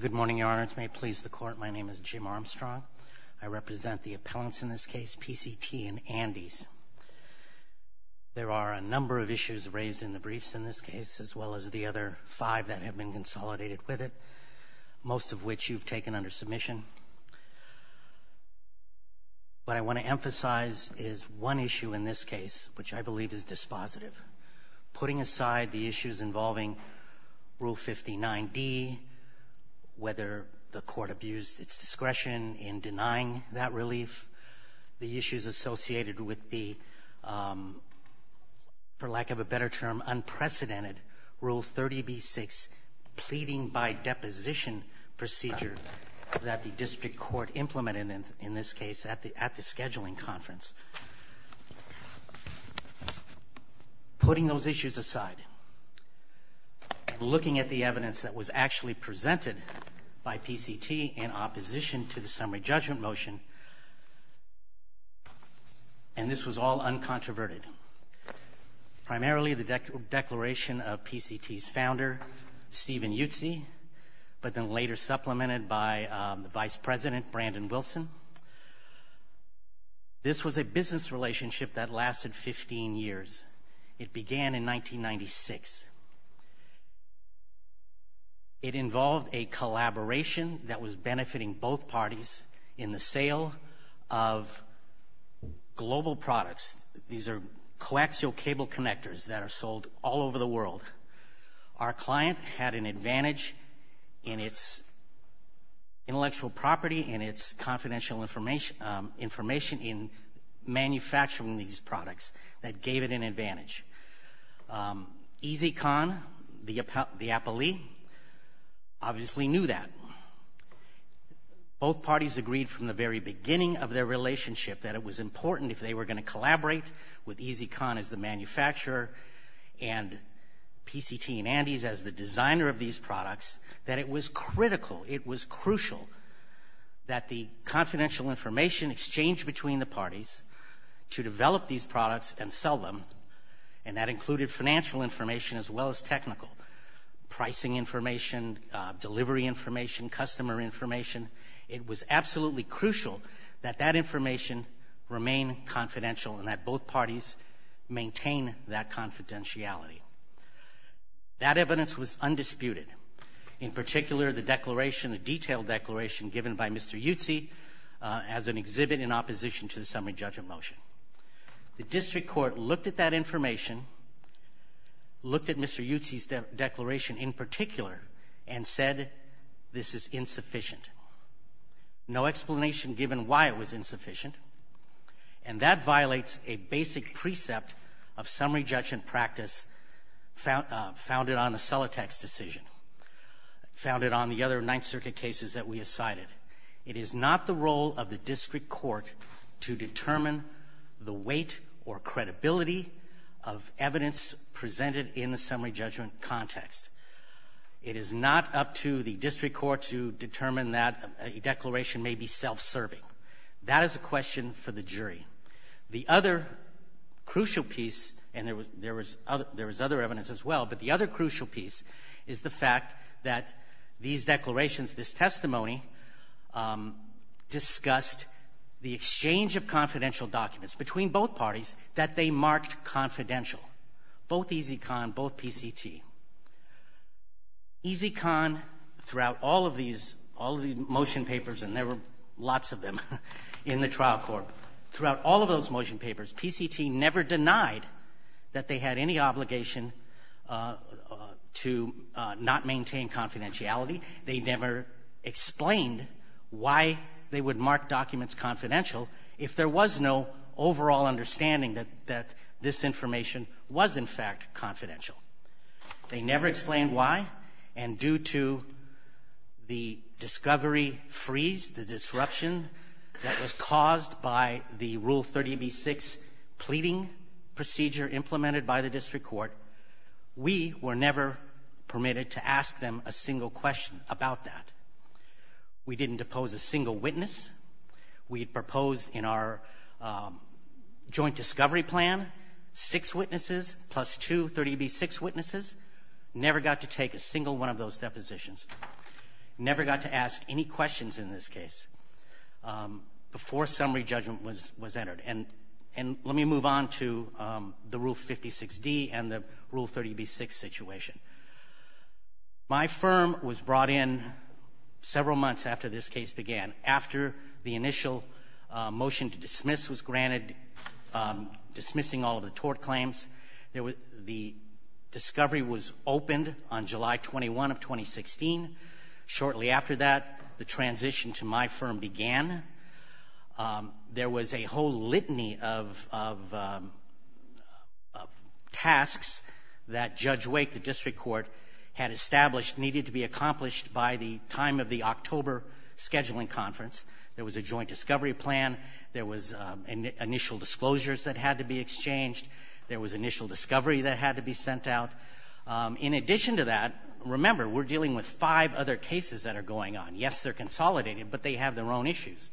Good morning, Your Honors. May it please the Court, my name is Jim Armstrong. I represent the appellants in this case, PCT and Andes. There are a number of issues raised in the briefs in this case, as well as the other five that have been consolidated with it, most of which you've taken under submission. What I want to emphasize is one issue in this case, which I believe is dispositive. Putting aside the issues involving Rule 59D, whether the Court abused its discretion in denying that relief, the issues associated with the, for lack of a better term, unprecedented Rule 30b-6 pleading by deposition procedure that the District Court implemented in this case at the scheduling conference. Putting those issues aside, looking at the evidence that was actually presented by PCT in opposition to the summary judgment motion, and this was all uncontroverted. Primarily the declaration of PCT's founder, Stephen Yutzi, but then later supplemented by the Vice President, Brandon Wilson. This was a business relationship that lasted 15 years. It began in 1996. It involved a collaboration that was benefiting both parties in the sale of global products. These are coaxial cable connectors that are sold all over the world. Our client had an advantage in its intellectual property and its confidential information in manufacturing these products. That gave it an advantage. EZCon, the appellee, obviously knew that. Both parties agreed from the very beginning of their relationship that it was important, if they were going to collaborate with EZCon as the manufacturer and PCT and Andes as the designer of these products, that it was critical, it was crucial, that the confidential information exchanged between the parties to develop these products and sell them, and that included financial information as well as technical. Pricing information, delivery information, customer information. It was absolutely crucial that that information remain confidential and that both parties maintain that confidentiality. That evidence was undisputed. In particular, the declaration, the detailed declaration given by Mr. Yutzi, as an exhibit in opposition to the summary judgment motion. The district court looked at that information, looked at Mr. Yutzi's declaration in particular, and said this is insufficient. No explanation given why it was insufficient, and that violates a basic precept of summary judgment practice founded on the Celotex decision, founded on the other Ninth Circuit cases that we have cited. It is not the role of the district court to determine the weight or credibility of evidence presented in the summary judgment context. It is not up to the district court to determine that a declaration may be self-serving. That is a question for the jury. The other crucial piece, and there was other evidence as well, but the other crucial piece is the fact that these declarations, this testimony, discussed the exchange of confidential documents between both parties that they marked confidential, both EZCON, both PCT. EZCON, throughout all of these, all of the motion papers, and there were lots of them in the trial court, throughout all of those motion papers, PCT never denied that they had any obligation to not maintain confidentiality. They never explained why they would mark documents confidential if there was no overall understanding that this information was, in fact, confidential. They never explained why, and due to the discovery freeze, the disruption that was caused by the Rule 30b-6 pleading procedure implemented by the district court, we were never permitted to ask them a single question about that. We didn't depose a single witness. We had proposed in our joint discovery plan six witnesses plus two 30b-6 witnesses. Never got to take a single one of those depositions. Never got to ask any questions in this case before summary judgment was entered. And let me move on to the Rule 56d and the Rule 30b-6 situation. My firm was brought in several months after this case began, after the initial motion to dismiss was granted, dismissing all of the tort claims. The discovery was opened on July 21 of 2016. Shortly after that, the transition to my firm began. There was a whole litany of tasks that Judge Wake, the district court, had established needed to be accomplished by the time of the October scheduling conference. There was a joint discovery plan. There was initial disclosures that had to be exchanged. There was initial discovery that had to be sent out. In addition to that, remember, we're dealing with five other cases that are going on. Yes, they're consolidated, but they have their own issues.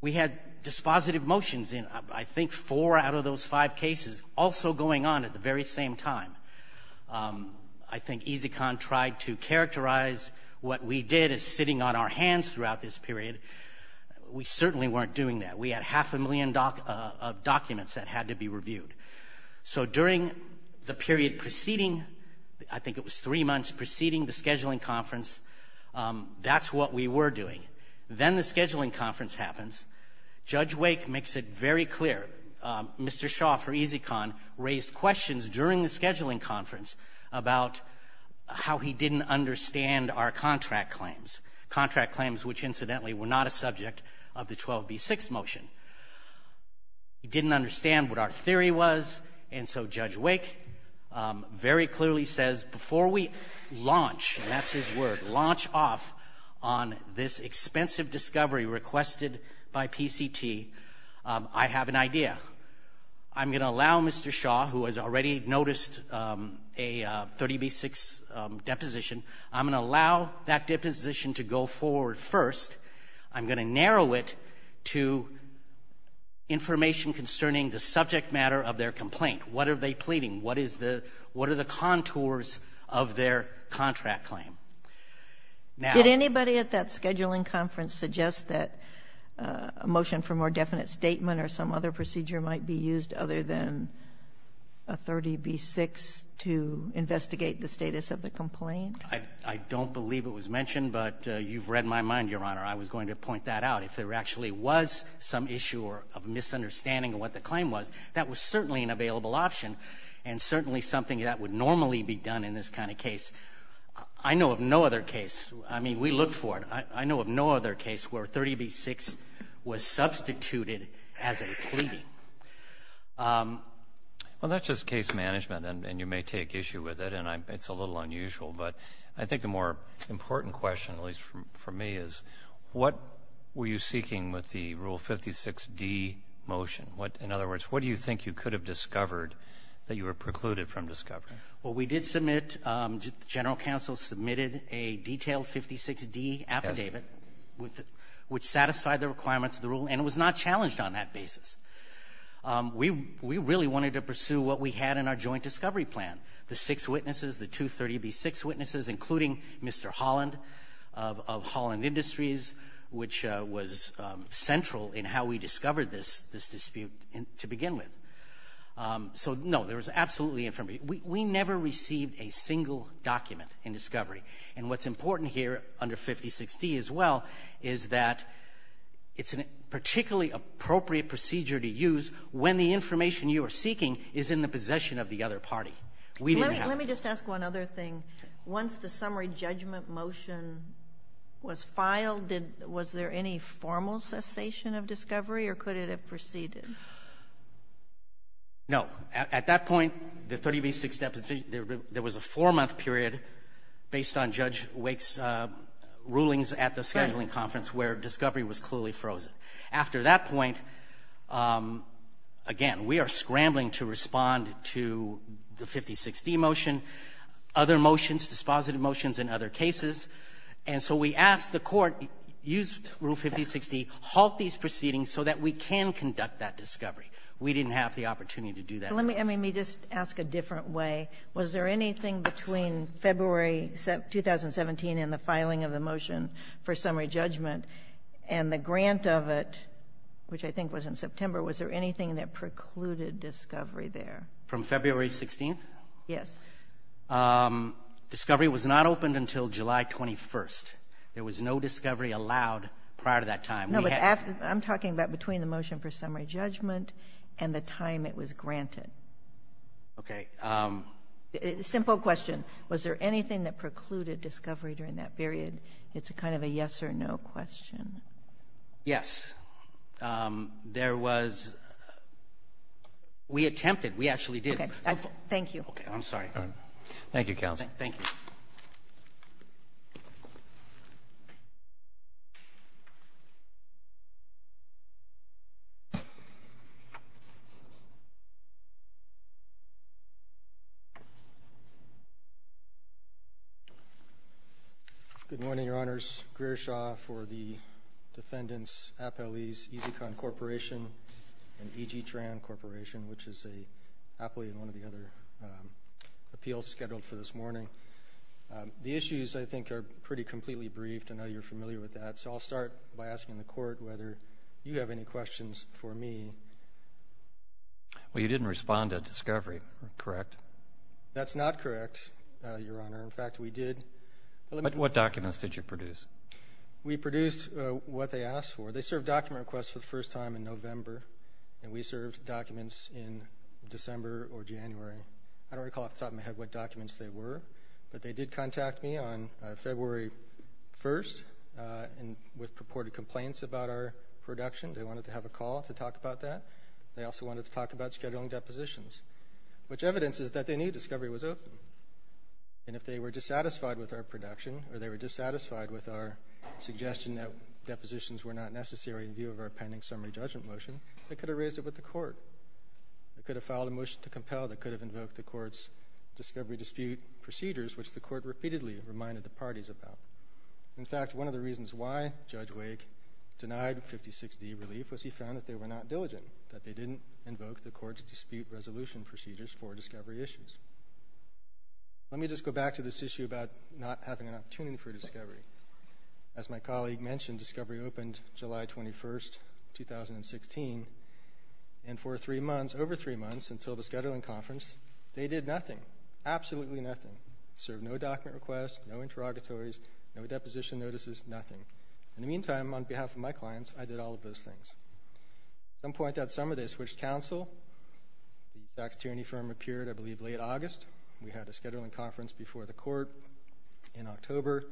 We had dispositive motions in, I think, four out of those five cases also going on at the very same time. I think EZCON tried to characterize what we did as sitting on our hands throughout this period. We certainly weren't doing that. We had half a million documents that had to be reviewed. So during the period preceding, I think it was three months preceding the scheduling conference, that's what we were doing. Then the scheduling conference happens. Judge Wake makes it very clear. Mr. Shaw, for EZCON, raised questions during the scheduling conference about how he didn't understand our contract claims, contract claims which, incidentally, were not a subject of the 12b-6 motion. He didn't understand what our theory was, and so Judge Wake very clearly says, before we launch, and that's his word, launch off on this expensive discovery requested by PCT, I have an idea. I'm going to allow Mr. Shaw, who has already noticed a 30b-6 deposition, I'm going to allow that deposition to go forward first. I'm going to narrow it to information concerning the subject matter of their complaint. What are they pleading? What is the — what are the contours of their contract claim? Now — Did anybody at that scheduling conference suggest that a motion for more definite statement or some other procedure might be used other than a 30b-6 to investigate the status of the complaint? I don't believe it was mentioned, but you've read my mind, Your Honor. I was going to point that out. If there actually was some issue or a misunderstanding of what the claim was, that was certainly an available option and certainly something that would normally be done in this kind of case. I know of no other case — I mean, we look for it. I know of no other case where a 30b-6 was substituted as a pleading. Well, that's just case management, and you may take issue with it, and it's a little unusual. But I think the more important question, at least for me, is what were you seeking with the Rule 56d motion? In other words, what do you think you could have discovered that you were precluded from discovering? Well, we did submit — the general counsel submitted a detailed 56d affidavit, which satisfied the requirements of the rule, and it was not challenged on that basis. We really wanted to pursue what we had in our joint discovery plan, the six witnesses, the two 30b-6 witnesses, including Mr. Holland of Holland Industries, which was central in how we discovered this dispute to begin with. So, no, there was absolutely — we never received a single document in discovery. And what's important here under 56d as well is that it's a particularly appropriate procedure to use when the information you are seeking is in the possession of the other party. We didn't have to. Let me just ask one other thing. Once the summary judgment motion was filed, was there any formal cessation of discovery, or could it have proceeded? No. At that point, the 30b-6 deposition, there was a four-month period based on Judge Wake's rulings at the scheduling conference where discovery was clearly frozen. After that point, again, we are scrambling to respond to the 5060 motion, other motions, dispositive motions in other cases. And so we asked the Court, use Rule 5060, halt these proceedings so that we can conduct that discovery. We didn't have the opportunity to do that. Let me just ask a different way. Was there anything between February 2017 and the filing of the motion for summary judgment and the grant of it, which I think was in September, was there anything that precluded discovery there? From February 16th? Yes. Discovery was not opened until July 21st. There was no discovery allowed prior to that time. No, but I'm talking about between the motion for summary judgment and the time it was granted. Okay. Simple question. Was there anything that precluded discovery during that period? It's kind of a yes or no question. Yes. There was. We attempted. We actually did. Okay. Thank you. Okay. I'm sorry. Thank you, Counsel. Thank you. Good morning, Your Honors. Greer Shaw for the defendants, appellees, EZ-CON Corporation and EG-TRAN Corporation, which is an appellee in one of the other appeals scheduled for this morning. The issues, I think, are pretty completely briefed. I know you're familiar with that, so I'll start by asking the court whether you have any questions for me. Well, you didn't respond to discovery, correct? That's not correct, Your Honor. In fact, we did. What documents did you produce? We produced what they asked for. They served document requests for the first time in November, and we served documents in December or January. I don't recall off the top of my head what documents they were, but they did contact me on February 1st with purported complaints about our production. They wanted to have a call to talk about that. They also wanted to talk about scheduling depositions, which evidence is that they knew discovery was open. And if they were dissatisfied with our production or they were dissatisfied with our suggestion that depositions were not necessary in view of our pending summary judgment motion, they could have raised it with the court. They could have filed a motion to compel. They could have invoked the court's discovery dispute procedures, which the court repeatedly reminded the parties about. In fact, one of the reasons why Judge Wake denied 56D relief was he found that they were not diligent, that they didn't invoke the court's dispute resolution procedures for discovery issues. Let me just go back to this issue about not having an opportunity for discovery. As my colleague mentioned, discovery opened July 21st, 2016, and for three months, over three months, until the scheduling conference, they did nothing. Absolutely nothing. Served no document requests, no interrogatories, no deposition notices, nothing. In the meantime, on behalf of my clients, I did all of those things. At some point that summer, they switched counsel. The Sachs-Tierney firm appeared, I believe, late August. We had a scheduling conference before the court in October,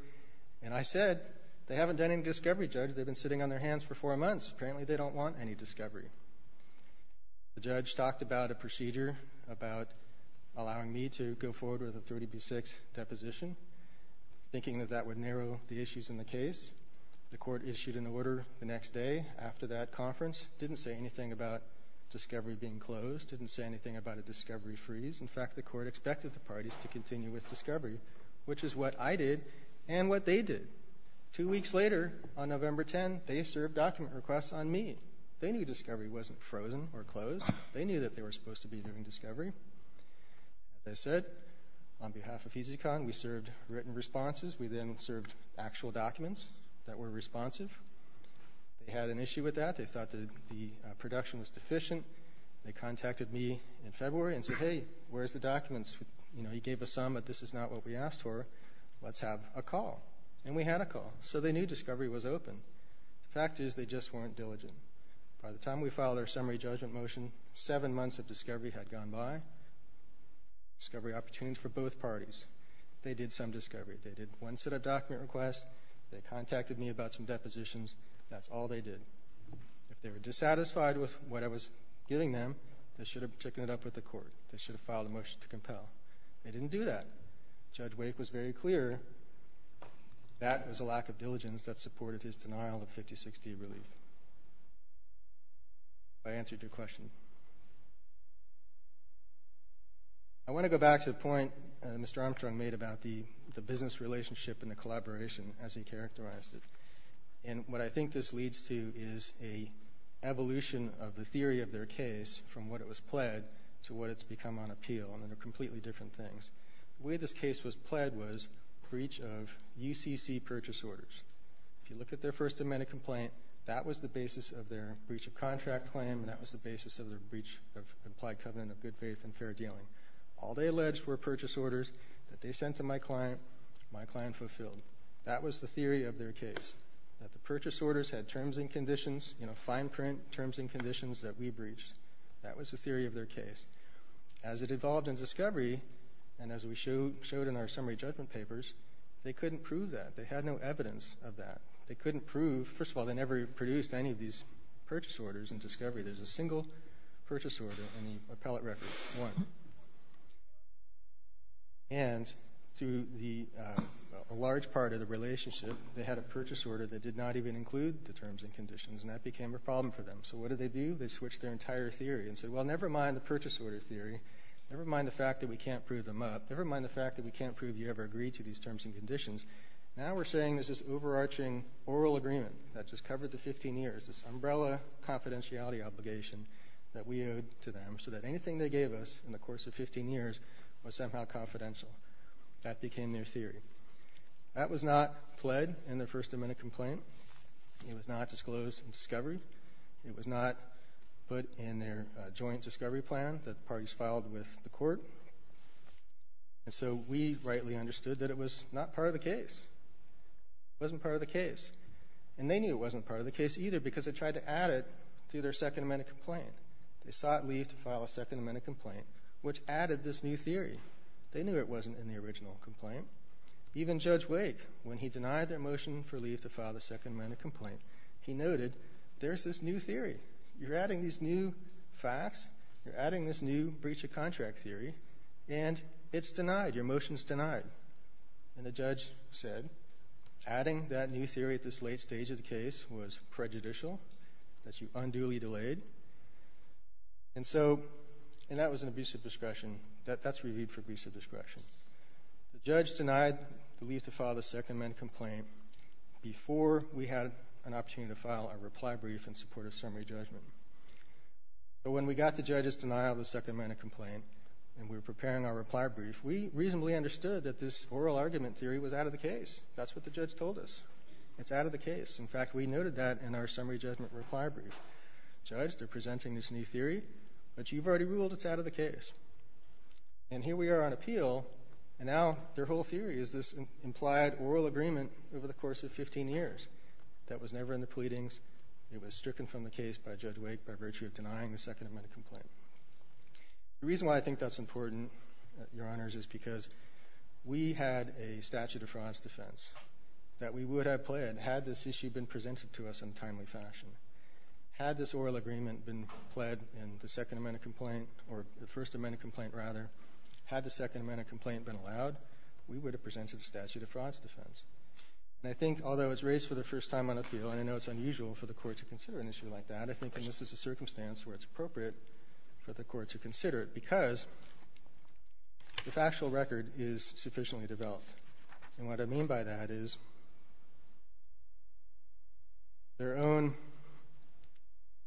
and I said, they haven't done any discovery, Judge. They've been sitting on their hands for four months. Apparently, they don't want any discovery. The judge talked about a procedure about allowing me to go forward with a 30B6 deposition, thinking that that would narrow the issues in the case. The court issued an order the next day after that conference. Didn't say anything about discovery being closed. Didn't say anything about a discovery freeze. In fact, the court expected the parties to continue with discovery, which is what I did and what they did. Two weeks later, on November 10th, they served document requests on me. They knew discovery wasn't frozen or closed. They knew that they were supposed to be doing discovery. As I said, on behalf of EZCon, we served written responses. We then served actual documents that were responsive. They had an issue with that. They thought that the production was deficient. They contacted me in February and said, hey, where's the documents? You know, you gave us some, but this is not what we asked for. Let's have a call. And we had a call. So they knew discovery was open. The fact is they just weren't diligent. By the time we filed our summary judgment motion, seven months of discovery had gone by. Discovery opportunities for both parties. They did some discovery. They did one set of document requests. They contacted me about some depositions. That's all they did. If they were dissatisfied with what I was giving them, they should have taken it up with the court. They should have filed a motion to compel. They didn't do that. Judge Wake was very clear that was a lack of diligence that supported his denial of 56D relief. I answered your question. I want to go back to the point Mr. Armstrong made about the business relationship and the collaboration as he characterized it. And what I think this leads to is an evolution of the theory of their case from what it was pled to what it's become on appeal. And they're completely different things. The way this case was pled was breach of UCC purchase orders. If you look at their First Amendment complaint, that was the basis of their breach of contract claim and that was the basis of their breach of implied covenant of good faith and fair dealing. All they alleged were purchase orders that they sent to my client, my client fulfilled. That was the theory of their case, that the purchase orders had terms and conditions, you know, fine print terms and conditions that we breached. That was the theory of their case. As it evolved in discovery and as we showed in our summary judgment papers, they couldn't prove that. They had no evidence of that. They couldn't prove, first of all, they never produced any of these purchase orders in discovery. There's a single purchase order in the appellate record, one. And to a large part of the relationship, they had a purchase order that did not even include the terms and conditions and that became a problem for them. So what did they do? They switched their entire theory and said, well, never mind the purchase order theory. Never mind the fact that we can't prove them up. Never mind the fact that we can't prove you ever agreed to these terms and conditions. Now we're saying there's this overarching oral agreement that just covered the 15 years, this umbrella confidentiality obligation that we owed to them so that anything they gave us in the course of 15 years was somehow confidential. That became their theory. That was not pled in their First Amendment complaint. It was not disclosed in discovery. It was not put in their joint discovery plan that the parties filed with the court. And so we rightly understood that it was not part of the case. It wasn't part of the case. And they knew it wasn't part of the case either because they tried to add it to their Second Amendment complaint. They sought leave to file a Second Amendment complaint, which added this new theory. They knew it wasn't in the original complaint. Even Judge Wake, when he denied their motion for leave to file the Second Amendment complaint, he noted there's this new theory. You're adding these new facts. You're adding this new breach of contract theory, and it's denied. Your motion's denied. And the judge said adding that new theory at this late stage of the case was prejudicial, that you unduly delayed, and that was an abuse of discretion. That's reviewed for abuse of discretion. The judge denied the leave to file the Second Amendment complaint before we had an opportunity to file a reply brief in support of summary judgment. But when we got the judge's denial of the Second Amendment complaint and we were preparing our reply brief, we reasonably understood that this oral argument theory was out of the case. That's what the judge told us. It's out of the case. In fact, we noted that in our summary judgment reply brief. Judge, they're presenting this new theory, but you've already ruled it's out of the case. And here we are on appeal, and now their whole theory is this implied oral agreement over the course of 15 years that was never in the pleadings. It was stricken from the case by Judge Wake by virtue of denying the Second Amendment complaint. The reason why I think that's important, Your Honors, is because we had a statute of frauds defense that we would have played had this issue been presented to us in a timely fashion. Had this oral agreement been pled in the Second Amendment complaint, or the First Amendment complaint rather, had the Second Amendment complaint been allowed, we would have presented a statute of frauds defense. And I think although it's raised for the first time on appeal, and I know it's unusual for the Court to consider an issue like that, I think in this is a circumstance where it's appropriate for the Court to consider it because the factual record is sufficiently developed. And what I mean by that is their own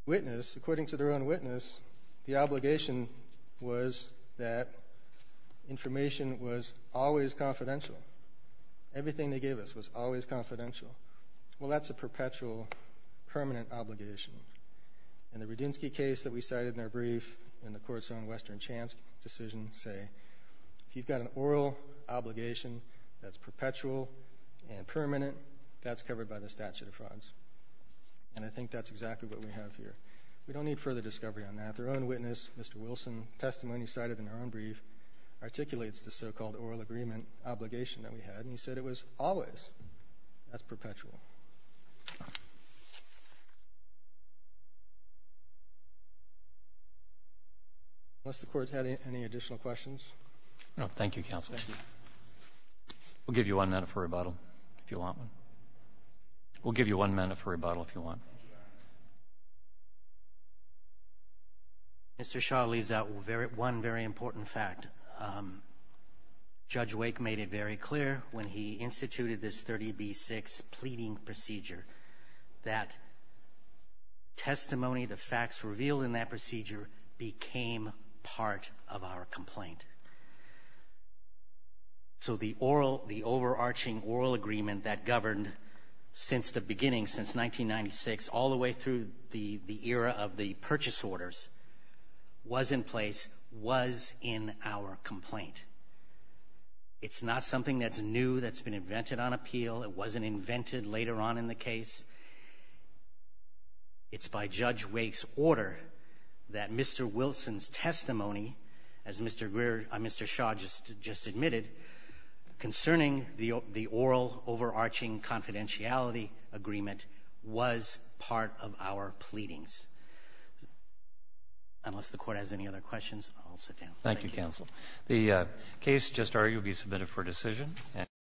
witness, according to their own witness, the obligation was that information was always confidential. Everything they gave us was always confidential. Well, that's a perpetual, permanent obligation. In the Rudinsky case that we cited in our brief, and the Court's own Western Chance decision, say if you've got an oral obligation that's perpetual and permanent, that's covered by the statute of frauds. And I think that's exactly what we have here. We don't need further discovery on that. Their own witness, Mr. Wilson, testimony cited in their own brief, articulates the so-called oral agreement obligation that we had, and he said it was always. That's perpetual. Thank you. Unless the Court's had any additional questions. No. Thank you, Counsel. Thank you. We'll give you one minute for rebuttal if you want one. We'll give you one minute for rebuttal if you want. Mr. Shah leaves out one very important fact. Judge Wake made it very clear when he instituted this 30B-6 pleading procedure that testimony, the facts revealed in that procedure, became part of our complaint. So the overarching oral agreement that governed since the beginning, since 1996, all the way through the era of the purchase orders, was in place, was in our complaint. It's not something that's new that's been invented on appeal. It wasn't invented later on in the case. It's by Judge Wake's order that Mr. Wilson's testimony, as Mr. Shah just admitted, concerning the oral overarching confidentiality agreement, was part of our pleadings. Unless the Court has any other questions, I'll sit down. Thank you, Counsel. The case, just argued, will be submitted for decision.